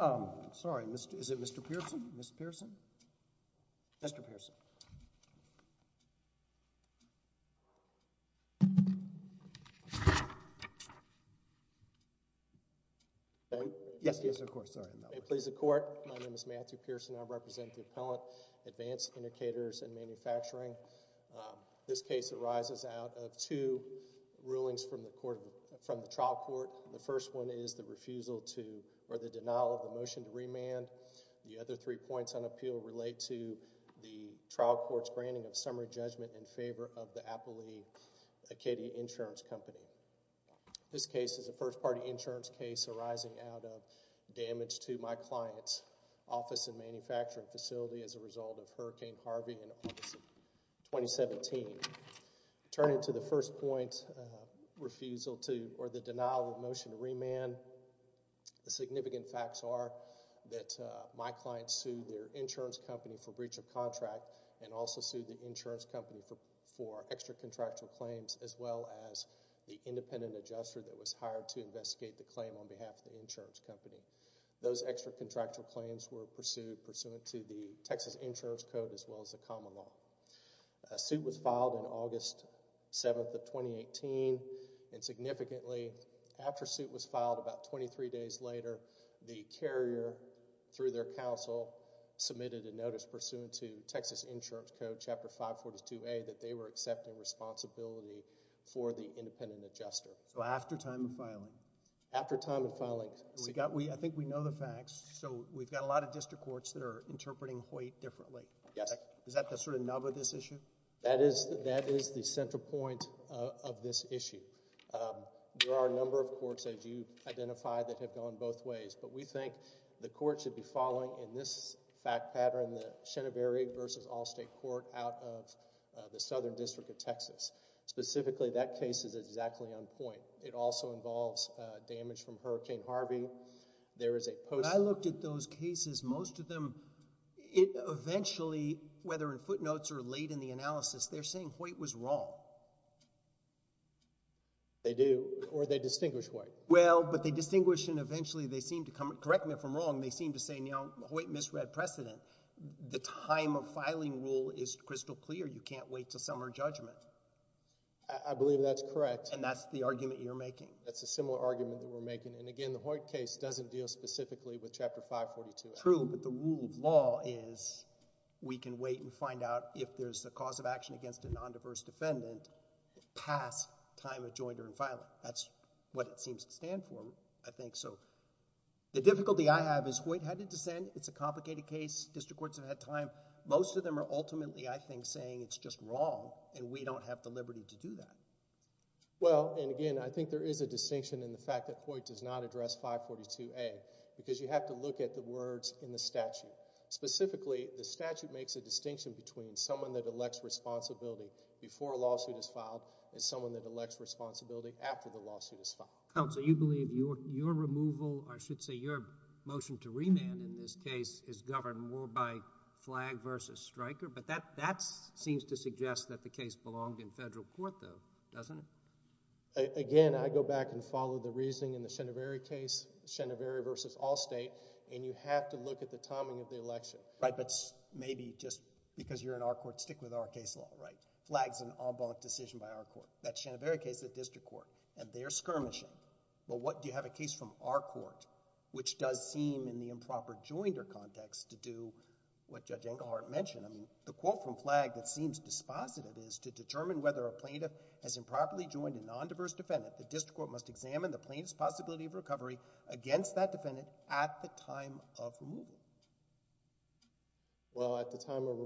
I'm sorry. Is it Mr. Pearson? Mr. Pearson? Mr. Pearson. Yes, yes, of course. Sorry. Please the court. My name is Matthew Pearson. I represent the Appellant Advanced Indicators in Manufacturing. This case arises out of two rulings from the trial court. The first one is the refusal to or the denial of the motion to remand. The other three points on appeal relate to the trial court's granting of summary judgment in favor of the Appellee Acadia Insurance Company. This case is a first party insurance case arising out of damage to my client's office and manufacturing facility as a result of Hurricane Harvey in August of 2017. Turning to the first point, refusal to or the denial of the motion to remand, the significant facts are that my client sued their insurance company for breach of contract and also sued the insurance company for extra contractual claims as well as the independent adjuster that was hired to investigate the claim on behalf of the insurance company. Those extra contractual claims were pursued pursuant to the Texas Insurance Code as well as the common law. A suit was filed in August 7th of 2018 and significantly after suit was filed about 23 days later, the carrier through their counsel submitted a notice pursuant to Texas Insurance Code Chapter 542A that they were accepting responsibility for the independent adjuster. So after time of filing? After time of filing. I think we know the facts, so we've got a lot of district courts that are interpreting Hoyt differently. Yes. Is that the sort of nub of this issue? That is the central point of this issue. There are a number of courts, as you've identified, that have gone both ways, but we think the court should be following in this fact pattern, the Shenaberry v. Allstate Court out of the Southern District of Texas. Specifically, that case is exactly on point. It also involves damage from Hurricane Harvey. I looked at those cases. Most of them, eventually, whether in footnotes or late in the analysis, they're saying Hoyt was wrong. They do, or they distinguish Hoyt. Well, but they distinguish, and eventually they seem to come—correct me if I'm wrong— they seem to say, you know, Hoyt misread precedent. The time of filing rule is crystal clear. You can't wait until summer judgment. I believe that's correct. And that's the argument you're making? That's a similar argument that we're making. And again, the Hoyt case doesn't deal specifically with Chapter 542. True, but the rule of law is we can wait and find out if there's a cause of action against a nondiverse defendant past time of joinder and filing. That's what it seems to stand for, I think. So the difficulty I have is Hoyt had to dissent. It's a complicated case. District courts have had time. Most of them are ultimately, I think, saying it's just wrong, and we don't have the liberty to do that. Well, and again, I think there is a distinction in the fact that Hoyt does not address 542A because you have to look at the words in the statute. Specifically, the statute makes a distinction between someone that elects responsibility before a lawsuit is filed and someone that elects responsibility after the lawsuit is filed. Counsel, you believe your removal—or I should say your motion to remand in this case is governed more by flag versus striker, but that seems to suggest that the case belonged in federal court, though, doesn't it? Again, I go back and follow the reasoning in the Scheneveri case, Scheneveri versus Allstate, and you have to look at the timing of the election. Right, but maybe just because you're in our court, stick with our case law, right? Flag's an en banc decision by our court. That Scheneveri case is a district court, and they're skirmishing. Well, what—do you have a case from our court, which does seem in the improper joinder context to do what Judge Engelhardt mentioned? I mean, the quote from Flag that seems dispositive is, to determine whether a plaintiff has improperly joined a nondiverse defendant, the district court must examine the plaintiff's possibility of recovery against that defendant at the time of removal. Well, at the time of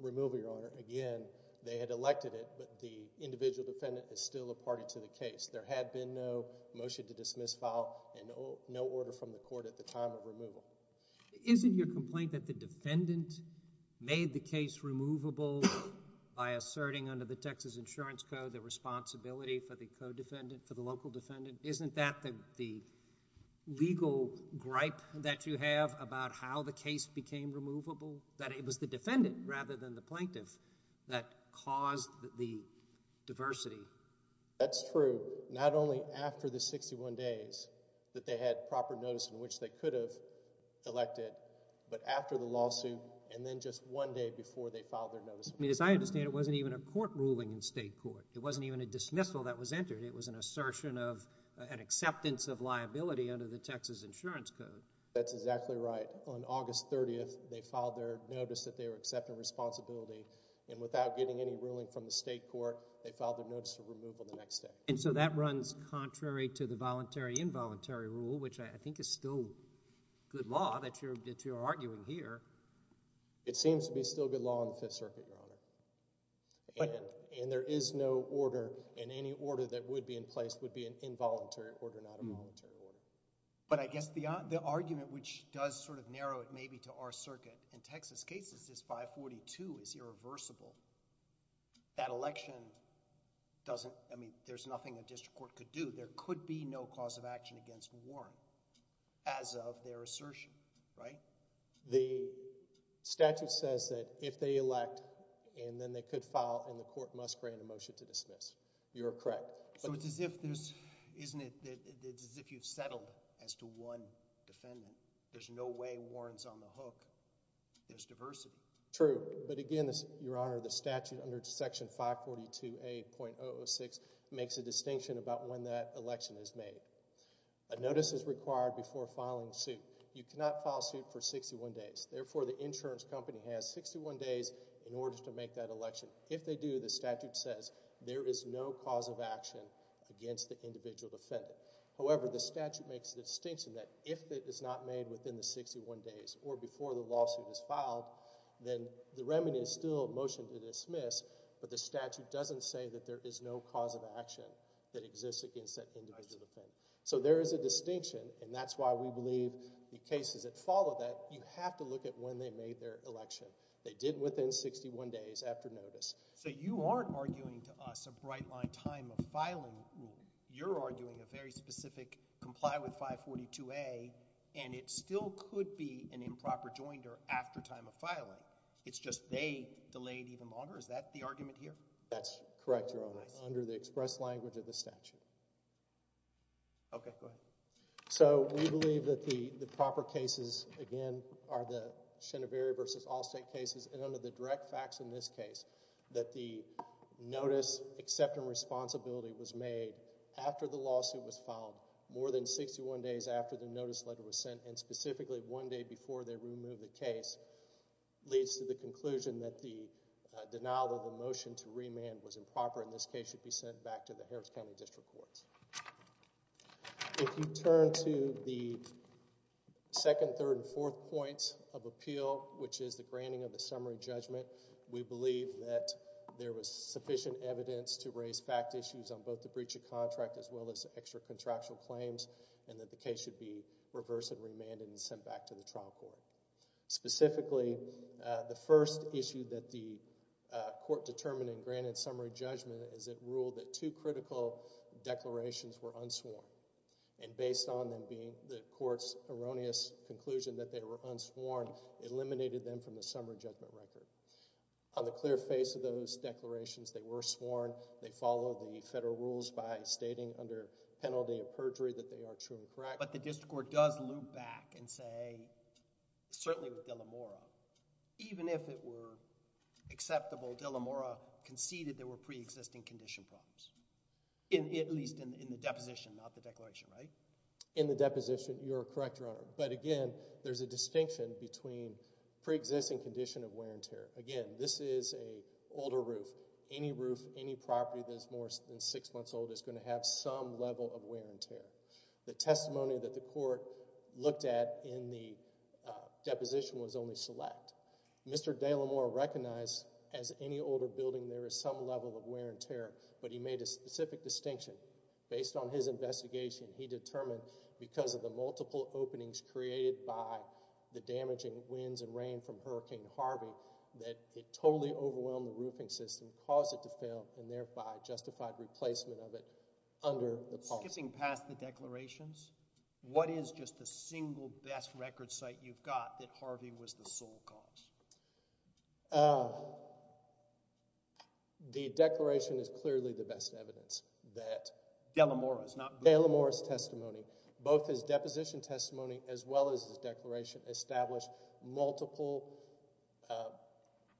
removal, Your Honor, again, they had elected it, but the individual defendant is still a party to the case. There had been no motion to dismiss file and no order from the court at the time of removal. Isn't your complaint that the defendant made the case removable by asserting under the Texas Insurance Code the responsibility for the co-defendant, for the local defendant? Isn't that the legal gripe that you have about how the case became removable, that it was the defendant rather than the plaintiff that caused the diversity? That's true. Not only after the 61 days that they had proper notice in which they could have elected, but after the lawsuit and then just one day before they filed their notice. I mean, as I understand, it wasn't even a court ruling in state court. It wasn't even a dismissal that was entered. It was an assertion of an acceptance of liability under the Texas Insurance Code. That's exactly right. On August 30th, they filed their notice that they were accepting responsibility, and without getting any ruling from the state court, they filed their notice of removal the next day. And so that runs contrary to the voluntary-involuntary rule, which I think is still good law that you're arguing here. It seems to be still good law in the Fifth Circuit, Your Honor. And there is no order, and any order that would be in place would be an involuntary order, not a voluntary order. But I guess the argument which does sort of narrow it maybe to our circuit, in Texas cases, this 542 is irreversible. That election doesn't—I mean, there's nothing a district court could do. There could be no cause of action against Warren as of their assertion, right? The statute says that if they elect, and then they could file, and the court must grant a motion to dismiss. You're correct. So it's as if there's—isn't it—it's as if you've settled as to one defendant. There's no way Warren's on the hook. There's diversity. True. But again, Your Honor, the statute under Section 542A.006 makes a distinction about when that election is made. A notice is required before filing suit. You cannot file suit for 61 days. Therefore, the insurance company has 61 days in order to make that election. If they do, the statute says there is no cause of action against the individual defendant. However, the statute makes the distinction that if it is not made within the 61 days or before the lawsuit is filed, then the remedy is still a motion to dismiss, but the statute doesn't say that there is no cause of action that exists against that individual defendant. So there is a distinction, and that's why we believe the cases that follow that, you have to look at when they made their election. They did within 61 days after notice. So you aren't arguing to us a bright-line time of filing. You're arguing a very specific comply with 542A.00, which still could be an improper joinder after time of filing. It's just they delayed even longer. Is that the argument here? That's correct, Your Honor, under the express language of the statute. Okay, go ahead. So we believe that the proper cases, again, are the Scheneverry v. Allstate cases, and under the direct facts in this case that the notice accepting responsibility was made after the lawsuit was filed, more than 61 days after the notice letter was sent, and specifically one day before they removed the case, leads to the conclusion that the denial of the motion to remand was improper and this case should be sent back to the Harris County District Courts. If you turn to the second, third, and fourth points of appeal, which is the granting of the summary judgment, we believe that there was sufficient evidence to raise fact issues on both the breach of contract as well as extra-contractual claims and that the case should be reversed and remanded and sent back to the trial court. Specifically, the first issue that the court determined in granting summary judgment is it ruled that two critical declarations were unsworn, and based on them being the court's erroneous conclusion that they were unsworn, it eliminated them from the summary judgment record. On the clear face of those declarations, they were sworn. They follow the federal rules by stating under penalty of perjury that they are true and correct. But the district court does loop back and say, certainly with Dillamora, even if it were acceptable, Dillamora conceded there were pre-existing condition problems, at least in the deposition, not the declaration, right? In the deposition, you're correct, Your Honor. But again, there's a distinction between pre-existing condition of wear and tear. Again, this is an older roof. Any roof, any property that is more than six months old is going to have some level of wear and tear. The testimony that the court looked at in the deposition was only select. Mr. Dillamora recognized as any older building there is some level of wear and tear, but he made a specific distinction. Based on his investigation, he determined because of the multiple openings created by the damaging winds and rain from Hurricane Harvey that it totally overwhelmed the roofing system, caused it to fail, and thereby justified replacement of it under the policy. Skipping past the declarations, what is just the single best record site you've got that Harvey was the sole cause? The declaration is clearly the best evidence that Dillamora's testimony, both his deposition testimony as well as his declaration, established multiple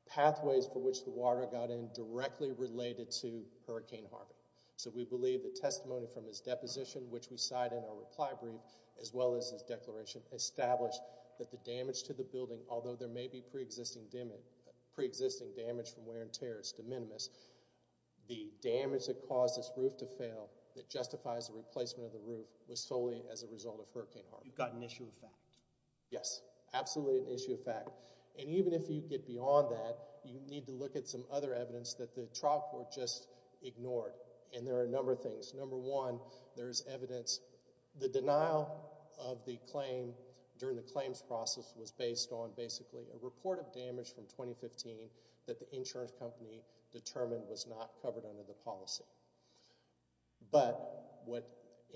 pathways for which the water got in directly related to Hurricane Harvey. So we believe the testimony from his deposition, which we cite in our reply brief, as well as his declaration, established that the damage to the building, although there may be preexisting damage from wear and tear, is de minimis. The damage that caused this roof to fail that justifies the replacement of the roof was solely as a result of Hurricane Harvey. You've got an issue of fact. Yes, absolutely an issue of fact. And even if you get beyond that, you need to look at some other evidence that the trial court just ignored. And there are a number of things. Number one, there is evidence. The denial of the claim during the claims process was based on basically a report of damage from 2015 that the insurance company determined was not covered under the policy.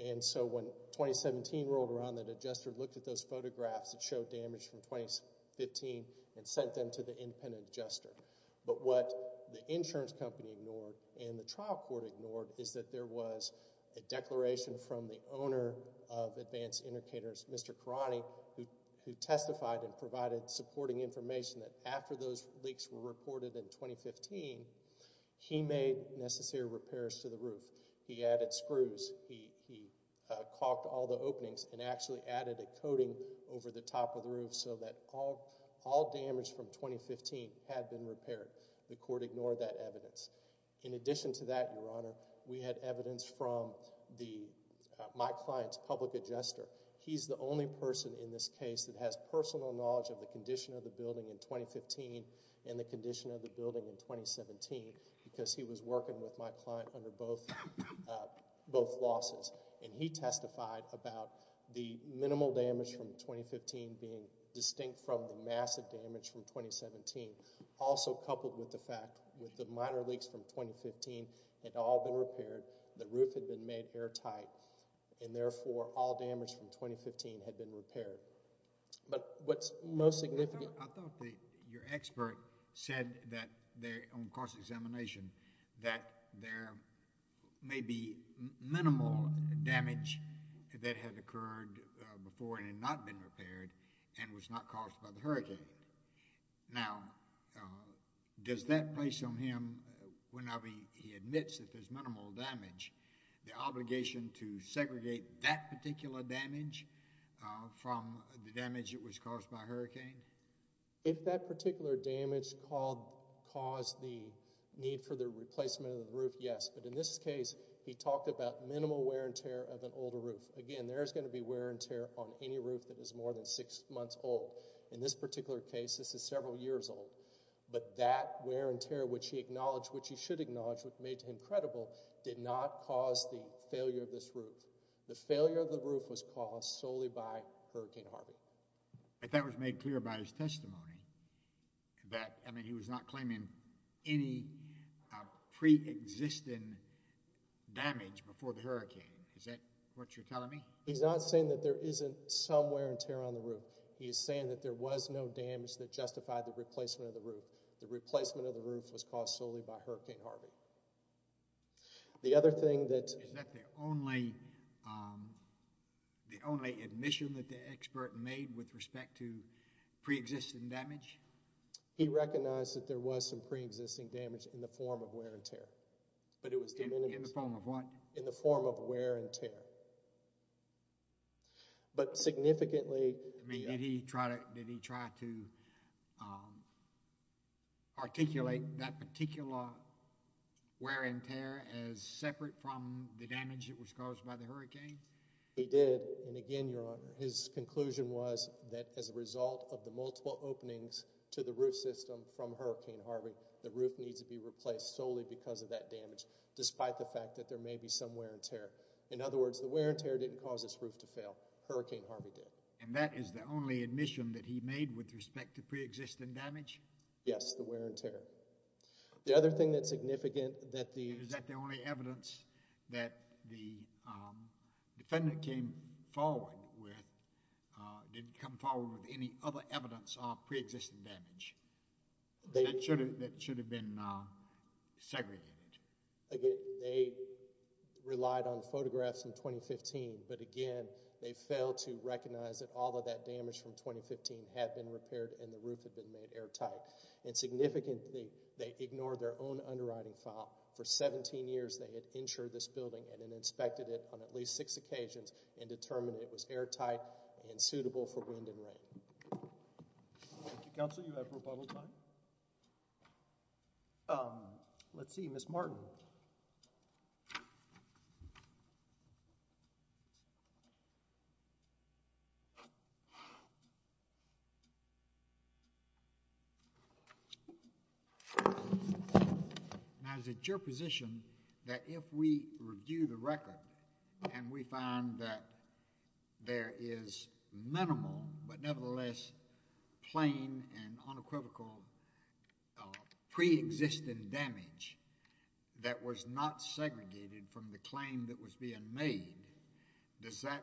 And so when 2017 rolled around, the adjuster looked at those photographs that showed damage from 2015 and sent them to the independent adjuster. But what the insurance company ignored and the trial court ignored is that there was a declaration from the owner of Advanced Indicators, Mr. Karani, who testified and provided supporting information that after those leaks were reported in 2015, he made necessary repairs to the roof. He added screws. He caulked all the openings and actually added a coating over the top of the roof so that all damage from 2015 had been repaired. The court ignored that evidence. In addition to that, Your Honor, we had evidence from my client's public adjuster. He's the only person in this case that has personal knowledge of the condition of the building in 2015 and the condition of the building in 2017 because he was working with my client under both losses. And he testified about the minimal damage from 2015 being distinct from the massive damage from 2017, also coupled with the fact that the minor leaks from 2015 had all been repaired, the roof had been made airtight, and therefore all damage from 2015 had been repaired. But what's most significant— I thought that your expert said that on cross-examination that there may be minimal damage that had occurred before and had not been repaired and was not caused by the hurricane. Now, does that place on him, when he admits that there's minimal damage, the obligation to segregate that particular damage from the damage that was caused by a hurricane? If that particular damage caused the need for the replacement of the roof, yes. But in this case, he talked about minimal wear and tear of an older roof. Again, there is going to be wear and tear on any roof that is more than six months old. In this particular case, this is several years old. But that wear and tear, which he acknowledged, which he should acknowledge, which made him credible, did not cause the failure of this roof. The failure of the roof was caused solely by Hurricane Harvey. But that was made clear by his testimony. I mean, he was not claiming any pre-existing damage before the hurricane. Is that what you're telling me? He is saying that there was no damage that justified the replacement of the roof. The replacement of the roof was caused solely by Hurricane Harvey. Is that the only admission that the expert made with respect to pre-existing damage? He recognized that there was some pre-existing damage in the form of wear and tear. In the form of what? In the form of wear and tear. But significantly— Did he try to articulate that particular wear and tear as separate from the damage that was caused by the hurricane? He did. And again, Your Honor, his conclusion was that as a result of the multiple openings to the roof system from Hurricane Harvey, the roof needs to be replaced solely because of that damage, despite the fact that there may be some wear and tear. In other words, the wear and tear didn't cause this roof to fail. Hurricane Harvey did. And that is the only admission that he made with respect to pre-existing damage? Yes, the wear and tear. The other thing that's significant that the— Is that the only evidence that the defendant came forward with, didn't come forward with any other evidence of pre-existing damage that should have been segregated? Again, they relied on photographs from 2015. But again, they failed to recognize that all of that damage from 2015 had been repaired and the roof had been made airtight. And significantly, they ignored their own underwriting file. For 17 years, they had insured this building and then inspected it on at least six occasions and determined it was airtight and suitable for wind and rain. Thank you, Counsel. You have rebuttal time. Let's see. Ms. Martin. Now, is it your position that if we review the record and we find that there is minimal but nevertheless plain and unequivocal pre-existing damage that was not segregated from the claim that was being made, does that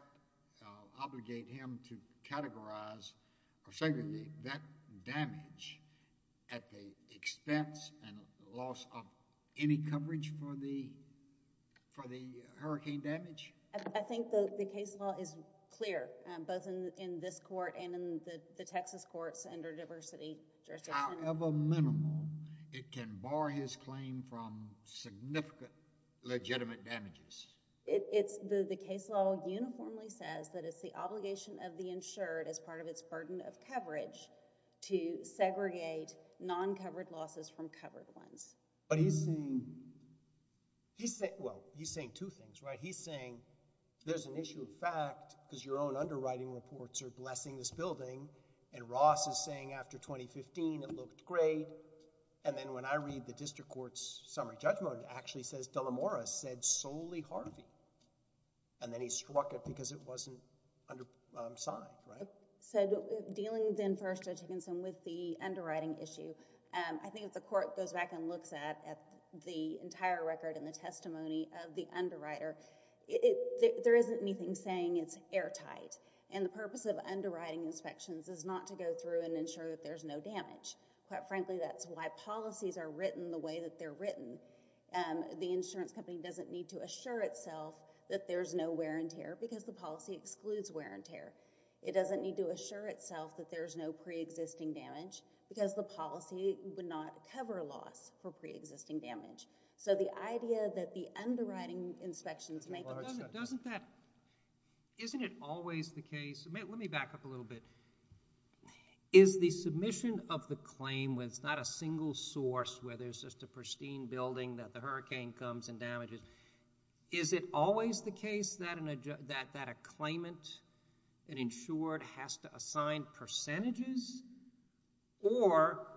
obligate him to categorize or segregate that damage at the expense and loss of any coverage for the hurricane damage? I think the case law is clear both in this court and in the Texas courts under diversity jurisdiction. However minimal, it can bar his claim from significant legitimate damages. The case law uniformly says that it's the obligation of the insured as part of its burden of coverage to segregate non-covered losses from covered ones. But he's saying, well, he's saying two things, right? He's saying there's an issue of fact because your own underwriting reports are blessing this building and Ross is saying after 2015, it looked great. And then when I read the district court's summary judgment, it actually says Delamora said solely Harvey. And then he struck it because it wasn't signed, right? So dealing then first, Judge Higginson, with the underwriting issue, I think if the court goes back and looks at the entire record and the testimony of the underwriter, there isn't anything saying it's airtight. And the purpose of underwriting inspections is not to go through and ensure that there's no damage. The insurance company doesn't need to assure itself that there's no wear and tear because the policy excludes wear and tear. It doesn't need to assure itself that there's no pre-existing damage because the policy would not cover loss for pre-existing damage. So the idea that the underwriting inspections make... Isn't it always the case? Let me back up a little bit. Is the submission of the claim when it's not a single source where there's just a pristine building that the hurricane comes and damages, is it always the case that a claimant, an insured, has to assign percentages? Or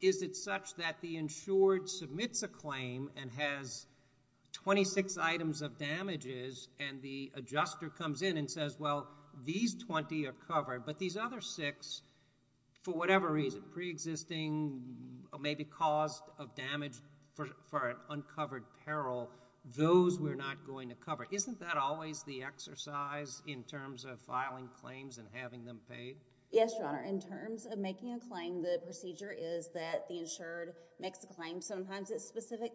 is it such that the insured submits a claim and has 26 items of damages and the adjuster comes in and says, well, these 20 are covered, but these other 6, for whatever reason, are pre-existing, maybe caused of damage for an uncovered peril, those we're not going to cover? Isn't that always the exercise in terms of filing claims and having them paid? Yes, Your Honor. In terms of making a claim, the procedure is that the insured makes a claim. Sometimes it's specific.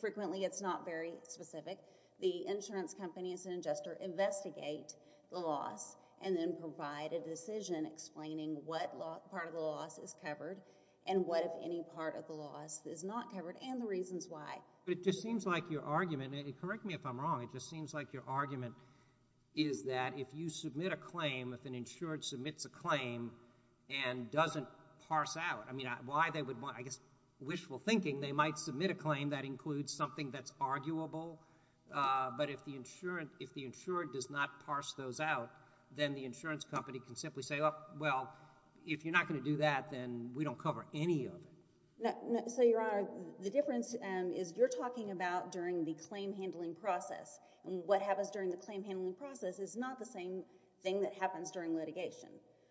Frequently it's not very specific. The insurance company and adjuster investigate the loss and then provide a decision explaining what part of the loss is covered and what, if any, part of the loss is not covered and the reasons why. But it just seems like your argument, and correct me if I'm wrong, it just seems like your argument is that if you submit a claim, if an insured submits a claim and doesn't parse out, I mean, I guess wishful thinking, they might submit a claim that includes something that's arguable, but if the insured does not parse those out, then the insurance company can simply say, well, if you're not going to do that, then we don't cover any of it. So, Your Honor, the difference is you're talking about during the claim handling process. What happens during the claim handling process is not the same thing that happens during litigation.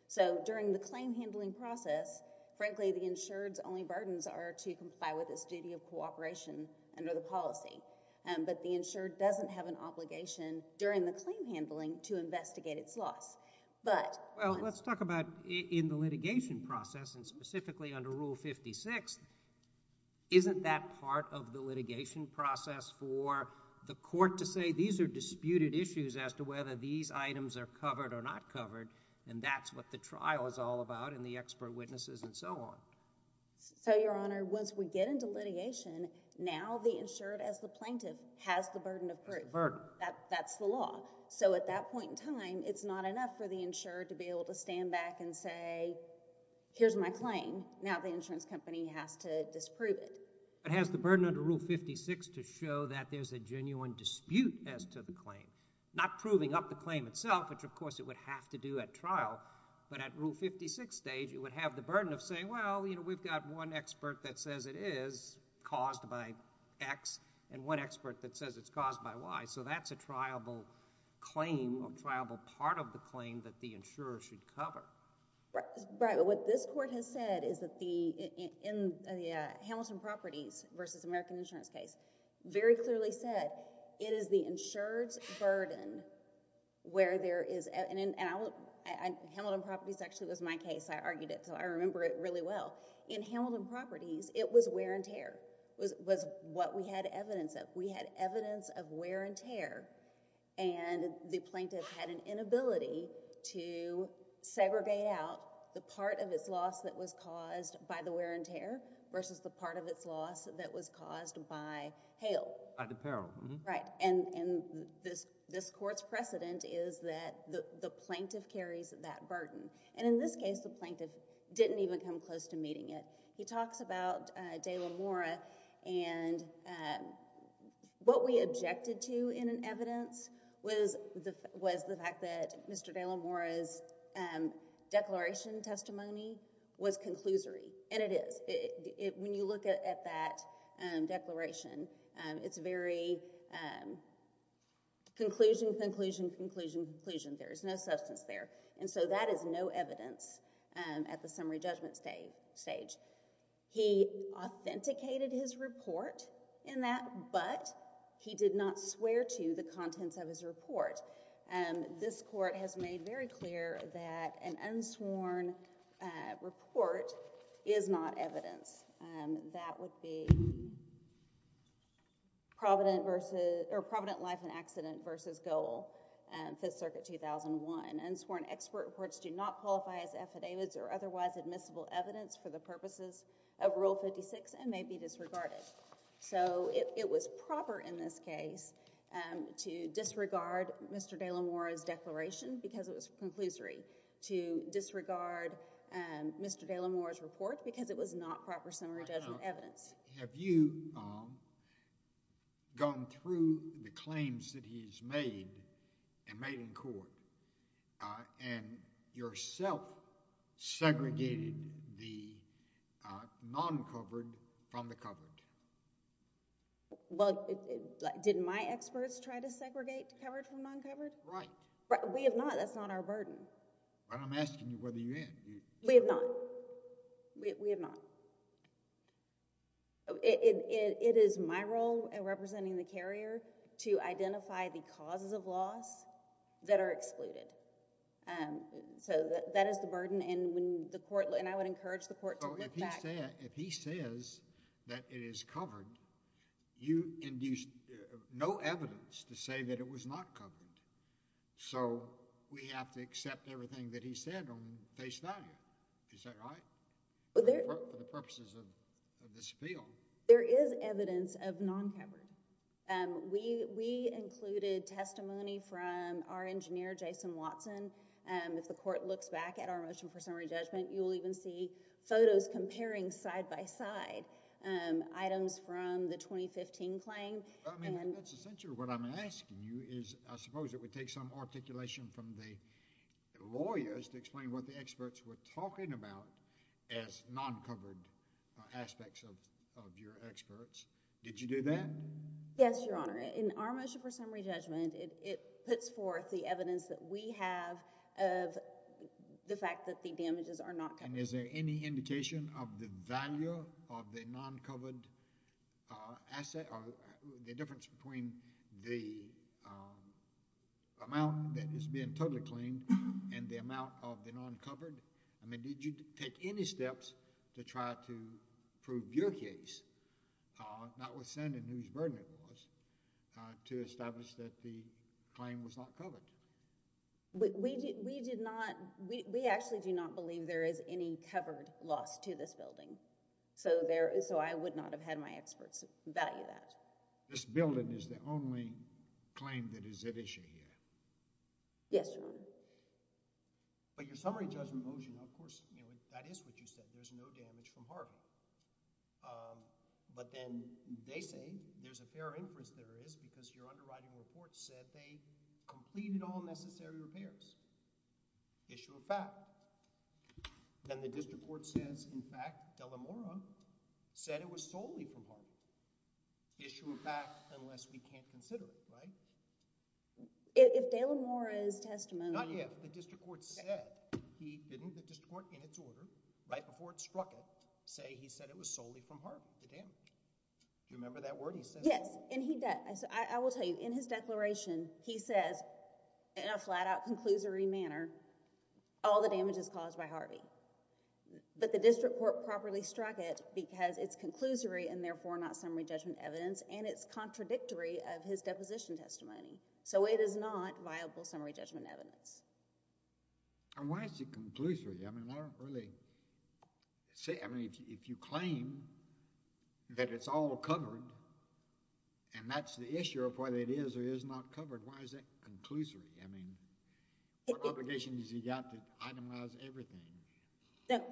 So during the claim handling process, frankly, the insured's only burdens are to comply with its duty of cooperation under the policy. But the insured doesn't have an obligation during the claim handling to investigate its loss. Well, let's talk about in the litigation process, and specifically under Rule 56, isn't that part of the litigation process for the court to say these are disputed issues as to whether these items are covered or not covered, and that's what the trial is all about and the expert witnesses and so on? So, Your Honor, once we get into litigation, now the insured as the plaintiff has the burden of proof. That's the burden. That's the law. So at that point in time, it's not enough for the insured to be able to stand back and say, here's my claim. Now the insurance company has to disprove it. It has the burden under Rule 56 to show that there's a genuine dispute as to the claim, not proving up the claim itself, which, of course, it would have to do at trial, but at Rule 56 stage, it would have the burden of saying, well, we've got one expert that says it is caused by X and one expert that says it's caused by Y, so that's a triable claim or triable part of the claim that the insurer should cover. Right, but what this court has said is that in the Hamilton Properties v. American Insurance case, very clearly said it is the insured's burden where there is... Hamilton Properties actually was my case. I argued it, so I remember it really well. In Hamilton Properties, it was wear and tear, was what we had evidence of. We had evidence of wear and tear, and the plaintiff had an inability to segregate out the part of its loss that was caused by the wear and tear versus the part of its loss that was caused by hail. By the peril. Right, and this court's precedent is that the plaintiff carries that burden. And in this case, the plaintiff didn't even come close to meeting it. He talks about De La Mora, and what we objected to in an evidence was the fact that Mr. De La Mora's declaration testimony was conclusory. And it is. When you look at that declaration, it's very conclusion, conclusion, conclusion, conclusion. There is no substance there. And so that is no evidence at the summary judgment stage. He authenticated his report in that, but he did not swear to the contents of his report. This court has made very clear that an unsworn report is not evidence. That would be Provident versus... or Provident Life and Accident versus Goal, Fifth Circuit, 2001. An unsworn expert reports do not qualify as affidavits or otherwise admissible evidence for the purposes of Rule 56 and may be disregarded. So it was proper in this case to disregard Mr. De La Mora's declaration because it was conclusory, to disregard Mr. De La Mora's report because it was not proper summary judgment evidence. Have you gone through the claims that he's made and made in court and yourself segregated the non-covered from the covered? Well, did my experts try to segregate covered from non-covered? Right. We have not. That's not our burden. But I'm asking you whether you have. We have not. We have not. It is my role in representing the carrier to identify the causes of loss that are excluded. So that is the burden and I would encourage the court to look back... So if he says that it is covered, so we have to accept everything that he said on face value. Is that right? For the purposes of this appeal. There is evidence of non-covered. We included testimony from our engineer, Jason Watson. If the court looks back at our motion for summary judgment, you'll even see photos comparing side-by-side items from the 2015 claim. I mean, that's essentially what I'm asking you is, I suppose it would take some articulation from the lawyers to explain what the experts were talking about as non-covered aspects of your experts. Did you do that? Yes, Your Honor. In our motion for summary judgment, it puts forth the evidence that we have of the fact that the damages are not covered. And is there any indication of the value of the non-covered asset or the difference between the amount that is being totally claimed and the amount of the non-covered? I mean, did you take any steps to try to prove your case, notwithstanding whose burden it was, to establish that the claim was not covered? We actually do not believe there is any covered loss to this building. So I would not have had my experts value that. This building is the only claim that is at issue here? Yes, Your Honor. But your summary judgment motion, of course, that is what you said. There's no damage from Harvey. But then they say there's a fair inference there is because your underwriting report said they completed all necessary repairs. Issue of fact. Then the district court says, in fact, Delamora said it was solely from Harvey. Issue of fact unless we can't consider it, right? If Delamora's testimony— Not if. The district court said. He didn't, the district court, in its order, right before it struck it, say he said it was solely from Harvey, the damage. Do you remember that word he said? Yes, and he, I will tell you, in his declaration he says, in a flat-out conclusory manner, all the damage is caused by Harvey. But the district court properly struck it because it's conclusory and therefore not summary judgment evidence and it's contradictory of his deposition testimony. So it is not viable summary judgment evidence. And why is it conclusory? I mean, I don't really see, I mean, if you claim that it's all covered and that's the issue of whether it is or is not covered, why is it conclusory? I mean, what obligation has he got to itemize everything?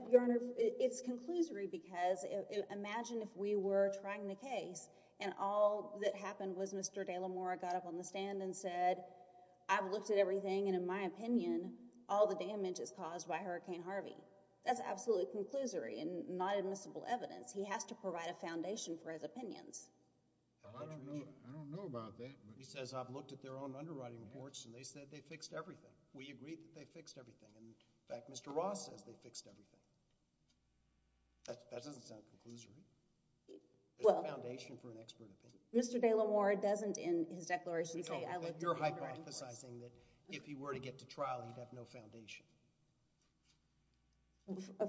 Your Honor, it's conclusory because imagine if we were trying the case and all that happened was Mr. Delamora got up on the stand and said, I've looked at everything and in my opinion, all the damage is caused by Hurricane Harvey. That's absolutely conclusory and not admissible evidence. He has to provide a foundation for his opinions. I don't know about that. He says, I've looked at their own underwriting reports and they said they fixed everything. We agree that they fixed everything. In fact, Mr. Ross says they fixed everything. That doesn't sound conclusory. There's a foundation for an expert opinion. Mr. Delamora doesn't in his declaration say I looked at the underwriting reports. You're hypothesizing that if he were to get to trial, he'd have no foundation.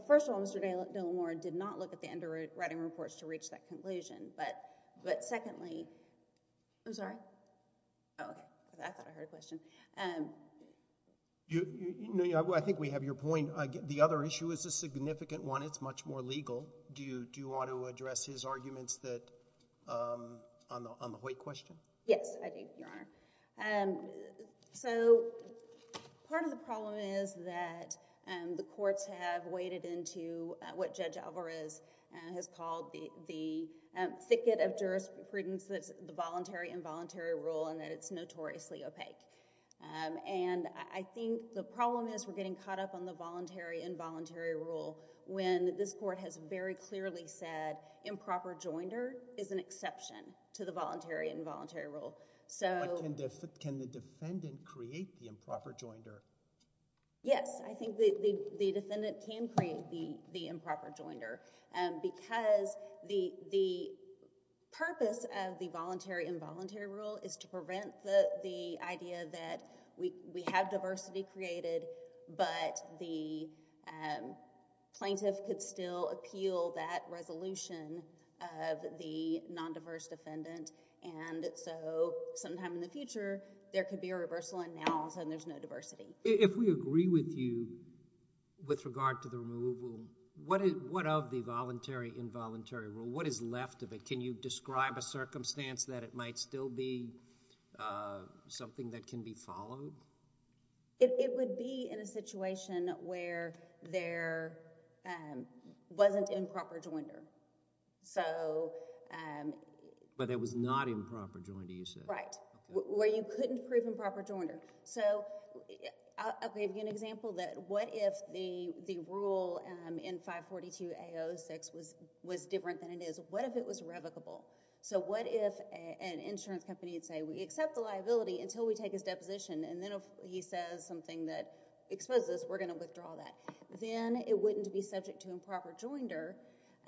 First of all, Mr. Delamora did not look at the underwriting reports to reach that conclusion. But secondly, I'm sorry? Oh, okay. I thought I heard a question. I think we have your point. The other issue is a significant one. It's much more legal. Do you want to address his arguments on the weight question? Yes, I do, Your Honor. So part of the problem is that the courts have waded into what Judge Alvarez has called the thicket of jurisprudence that's the voluntary-involuntary rule and that it's notoriously opaque. And I think the problem is we're getting caught up on the voluntary-involuntary rule when this court has very clearly said improper joinder is an exception to the voluntary-involuntary rule. Can the defendant create the improper joinder? Yes. I think the defendant can create the improper joinder because the purpose of the voluntary-involuntary rule is to prevent the idea that we have diversity created but the plaintiff could still appeal that resolution of the nondiverse defendant. And so sometime in the future, there could be a reversal and now all of a sudden there's no diversity. If we agree with you with regard to the removal, what of the voluntary-involuntary rule, what is left of it? Can you describe a circumstance that it might still be something that can be followed? It would be in a situation where there wasn't improper joinder. But it was not improper joinder, you said. Right. Where you couldn't prove improper joinder. So I'll give you an example that what if the rule in 542A06 was different than it is? What if it was revocable? So what if an insurance company would say, we accept the liability until we take his deposition and then if he says something that exposes us, we're going to withdraw that. Then it wouldn't be subject to improper joinder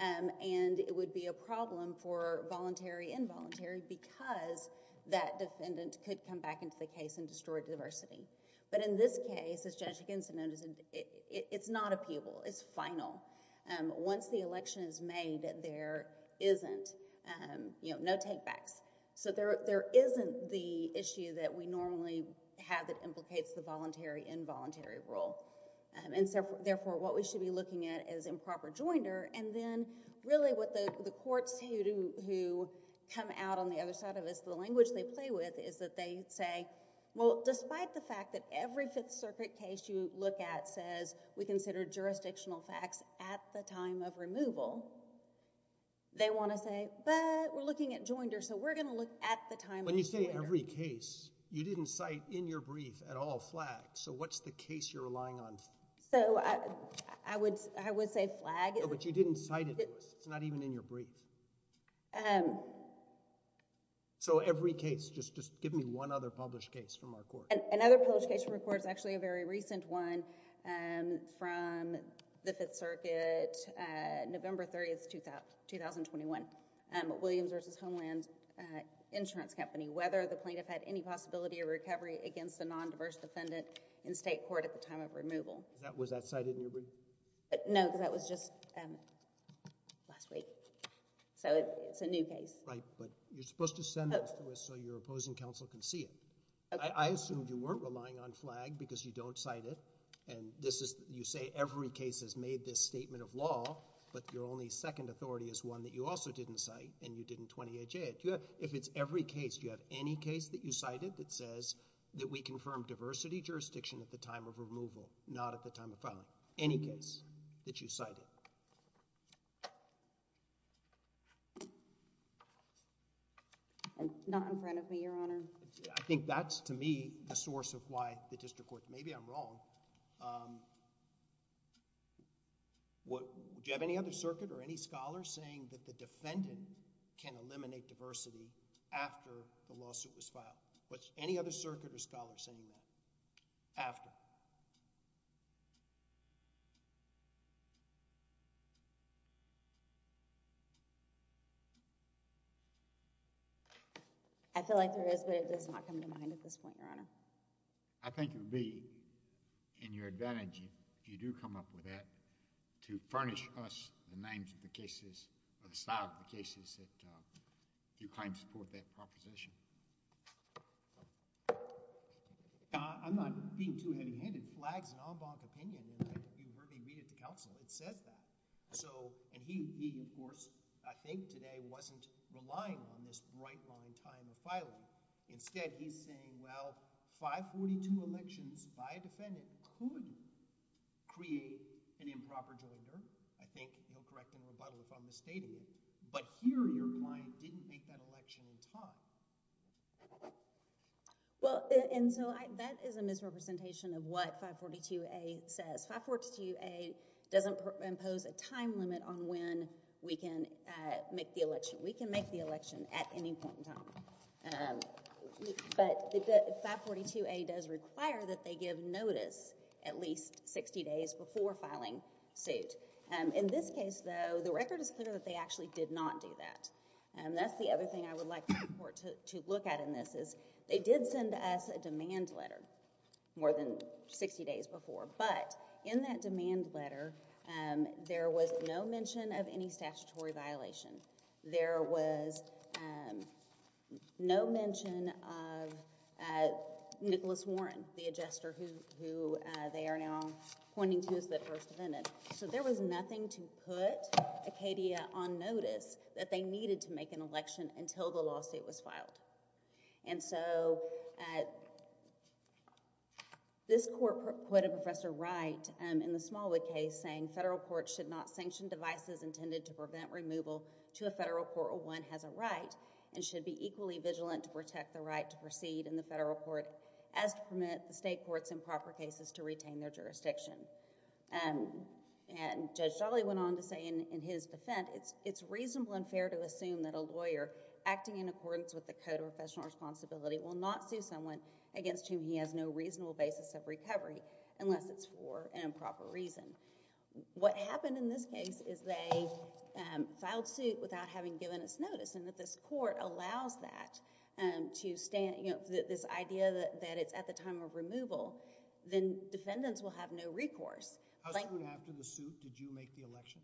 and it would be a problem for voluntary-involuntary because that defendant could come back into the case and destroy diversity. But in this case, as Judge Higginson noted, it's not appealable. It's final. Once the election is made, there isn't, you know, no take-backs. So there isn't the issue that we normally have that implicates the voluntary-involuntary rule. And therefore, what we should be looking at is improper joinder and then really what the courts who come out on the other side of this, the language they play with is that they say, well, despite the fact that every Fifth Circuit case you look at says we consider jurisdictional facts at the time of removal, they want to say, but we're looking at joinder, so we're going to look at the time of removal. When you say every case, you didn't cite in your brief at all Flagg. So what's the case you're relying on? So I would say Flagg. But you didn't cite it to us. It's not even in your brief. So every case, just give me one other published case from our court. Another published case from our court is actually a very recent one from the Fifth Circuit, November 30th, 2021, Williams v. Homeland Insurance Company, whether the plaintiff had any possibility of recovery against a non-diverse defendant in state court at the time of removal. Was that cited in your brief? No, because that was just last week. So it's a new case. Right, but you're supposed to send those to us so your opposing counsel can see it. I assume you weren't relying on Flagg because you don't cite it and you say every case has made this statement of law, but your only second authority is one that you also didn't cite and you didn't 28J it. If it's every case, do you have any case that you cited that says that we confirmed diversity jurisdiction at the time of removal, not at the time of filing? Any case that you cited? Not in front of me, Your Honor. I think that's, to me, the source of why the district court may be wrong. Do you have any other circuit or any scholar saying that the defendant can eliminate diversity after the lawsuit was filed? Any other circuit or scholar saying that? After? I feel like there is, but it does not come to mind at this point, Your Honor. I think it would be in your advantage, if you do come up with that, to furnish us the names of the cases or the style of the cases that you claim to support that proposition. I'm not being too heavy-handed. Flagg's an en banc opinion, and you've heard me read it to counsel. It says that. And he, of course, I think today, wasn't relying on this bright-line time of filing. Instead, he's saying, well, 542 elections by a defendant could create an improper joinder. I think he'll correct me in rebuttal if I'm misstating it. But here, your client didn't make that election in time. Well, and so that is a misrepresentation of what 542A says. 542A doesn't impose a time limit on when we can make the election. We can make the election at any point in time. But 542A does require that they give notice at least 60 days before filing suit. In this case, though, the record is clear that they actually did not do that. That's the other thing I would like the court to look at in this, is they did send us a demand letter more than 60 days before. But in that demand letter, there was no mention of any statutory violation. There was no mention of Nicholas Warren, the adjuster who they are now pointing to as the first defendant. So there was nothing to put Acadia on notice that they needed to make an election until the lawsuit was filed. And so this court put a Professor Wright in the Smallwood case saying federal courts should not sanction devices intended to prevent removal to a federal court where one has a right and should be equally vigilant to protect the right to proceed in the federal court as to permit the state courts in proper cases to retain their jurisdiction. And Judge Dawley went on to say in his defense, it's reasonable and fair to assume that a lawyer acting in accordance with the Code of Professional Responsibility will not sue someone against whom he has no reasonable basis of recovery unless it's for an improper reason. What happened in this case is they filed suit without having given us notice and that this court allows that to stand... this idea that it's at the time of removal, then defendants will have no recourse. How soon after the suit did you make the election?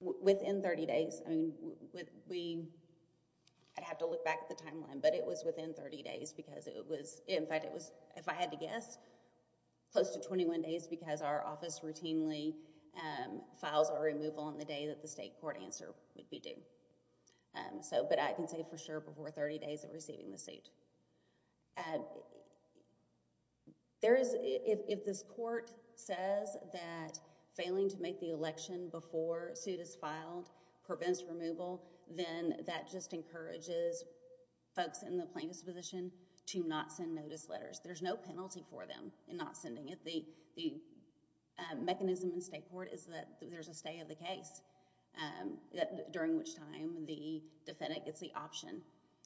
Within 30 days. I mean, we... I'd have to look back at the timeline, but it was within 30 days because it was... In fact, it was, if I had to guess, close to 21 days because our office routinely files a removal on the day that the state court answer would be due. So, but I can say for sure before 30 days of receiving the suit. There is... if this court says that failing to make the election before suit is filed prevents removal, then that just encourages folks in the plaintiff's position to not send notice letters. There's no penalty for them in not sending it. The mechanism in state court is that there's a stay of the case during which time the defendant gets the option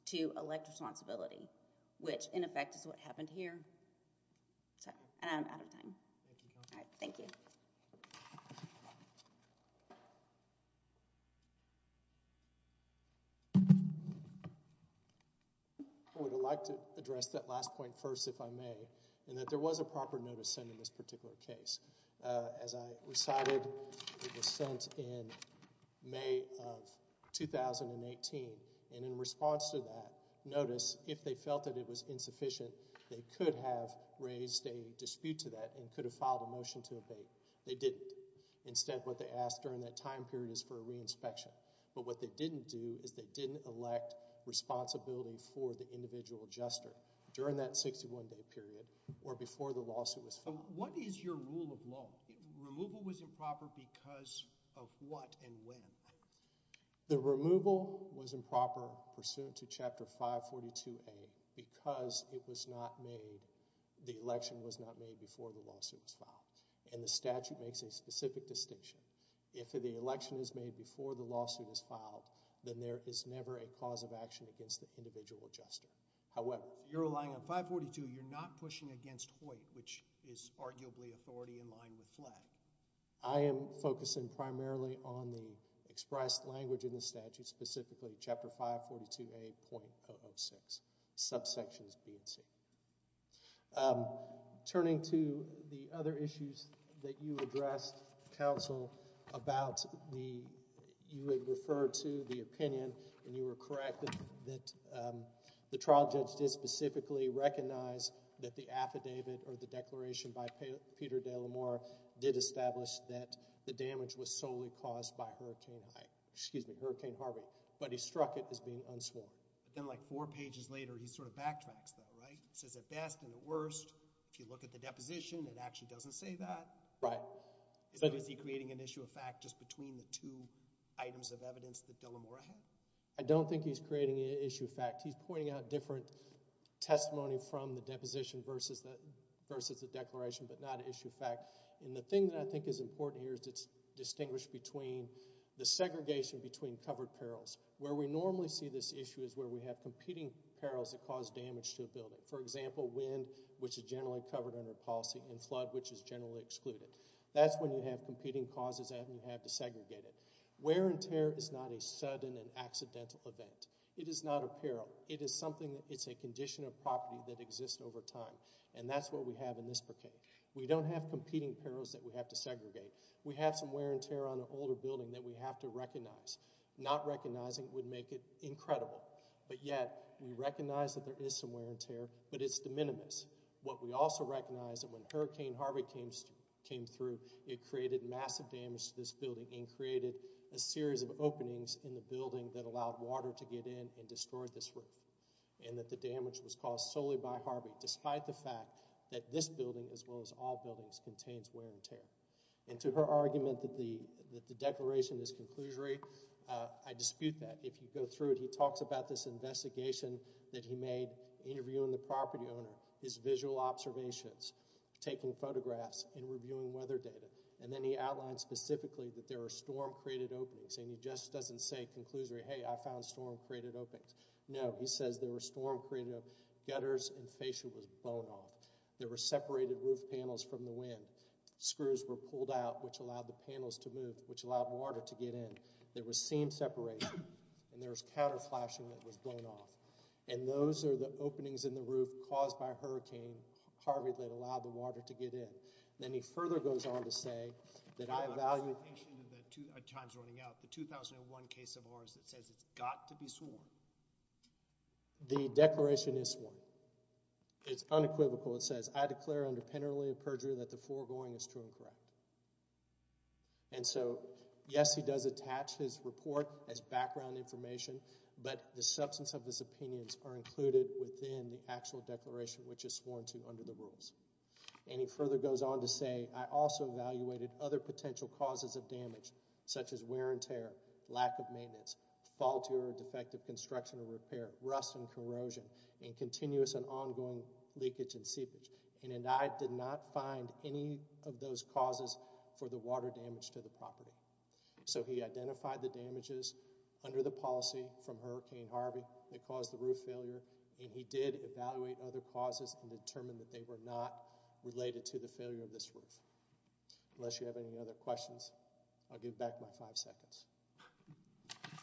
to elect responsibility, which, in effect, is what happened here. I'm out of time. Thank you. I would like to address that last point first, if I may, in that there was a proper notice sent in this particular case. As I recited, it was sent in May of 2018, and in response to that notice, if they felt that it was insufficient, they could have raised a dispute to that and could have filed a motion to abate. They didn't. Instead, what they asked during that time period is for a re-inspection. But what they didn't do is they didn't elect responsibility for the individual adjuster during that 61-day period or before the lawsuit was filed. What is your rule of law? Removal was improper because of what and when? The removal was improper pursuant to Chapter 542A because the election was not made before the lawsuit was filed, and the statute makes a specific distinction. If the election is made before the lawsuit is filed, then there is never a cause of action against the individual adjuster. However, you're relying on 542. You're not pushing against Hoyt, which is arguably authority in line with Flatt. I am focusing primarily on the expressed language in the statute, specifically Chapter 542A.006, subsections B and C. Turning to the other issues that you addressed, counsel, about the – you had referred to the opinion, and you were correct, that the trial judge did specifically recognize that the affidavit or the declaration by Peter De La Mora did establish that the damage was solely caused by Hurricane Harvey, but he struck it as being unsworn. Then like four pages later, he sort of backtracks though, right? He says at best and at worst. If you look at the deposition, it actually doesn't say that. Right. Is he creating an issue of fact just between the two items of evidence that De La Mora had? I don't think he's creating an issue of fact. He's pointing out different testimony from the deposition versus the declaration, but not an issue of fact. The thing that I think is important here is it's distinguished between the segregation between covered perils. Where we normally see this issue is where we have competing perils that cause damage to a building, for example, wind, which is generally covered under policy, and flood, which is generally excluded. That's when you have competing causes and you have to segregate it. Wear and tear is not a sudden and accidental event. It is not a peril. It is something that's a condition of property that exists over time, and that's what we have in this bouquet. We don't have competing perils that we have to segregate. We have some wear and tear on an older building that we have to recognize. Not recognizing would make it incredible, but yet we recognize that there is some wear and tear, but it's de minimis. What we also recognize is that when Hurricane Harvey came through, it created massive damage to this building and created a series of openings in the building that allowed water to get in and destroy this roof, and that the damage was caused solely by Harvey, despite the fact that this building, as well as all buildings, contains wear and tear. And to her argument that the declaration is conclusory, I dispute that. If you go through it, he talks about this investigation that he made, interviewing the property owner, his visual observations, taking photographs, and reviewing weather data. And then he outlined specifically that there are storm-created openings, and he just doesn't say conclusory, hey, I found storm-created openings. No, he says there were storm-created openings. Gutters and fascia was blown off. There were separated roof panels from the wind. Screws were pulled out, which allowed the panels to move, which allowed water to get in. There was seam separation, and there was counter flashing that was blown off. And those are the openings in the roof caused by Hurricane Harvey that allowed the water to get in. And then he further goes on to say that I value— You have an explanation of the Times running out. The 2001 case of ours that says it's got to be sworn. The declaration is sworn. It's unequivocal. It says, I declare under penalty of perjury that the foregoing is true and correct. And so, yes, he does attach his report as background information, but the substance of his opinions are included within the actual declaration, which is sworn to under the rules. And he further goes on to say, I also evaluated other potential causes of damage, such as wear and tear, lack of maintenance, faulty or defective construction or repair, rust and corrosion, and continuous and ongoing leakage and seepage. And I did not find any of those causes for the water damage to the property. So he identified the damages under the policy from Hurricane Harvey that caused the roof failure, and he did evaluate other causes and determined that they were not related to the failure of this roof. Unless you have any other questions, I'll give back my five seconds.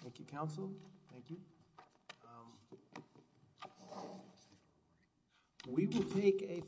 Thank you, Counsel. Thank you.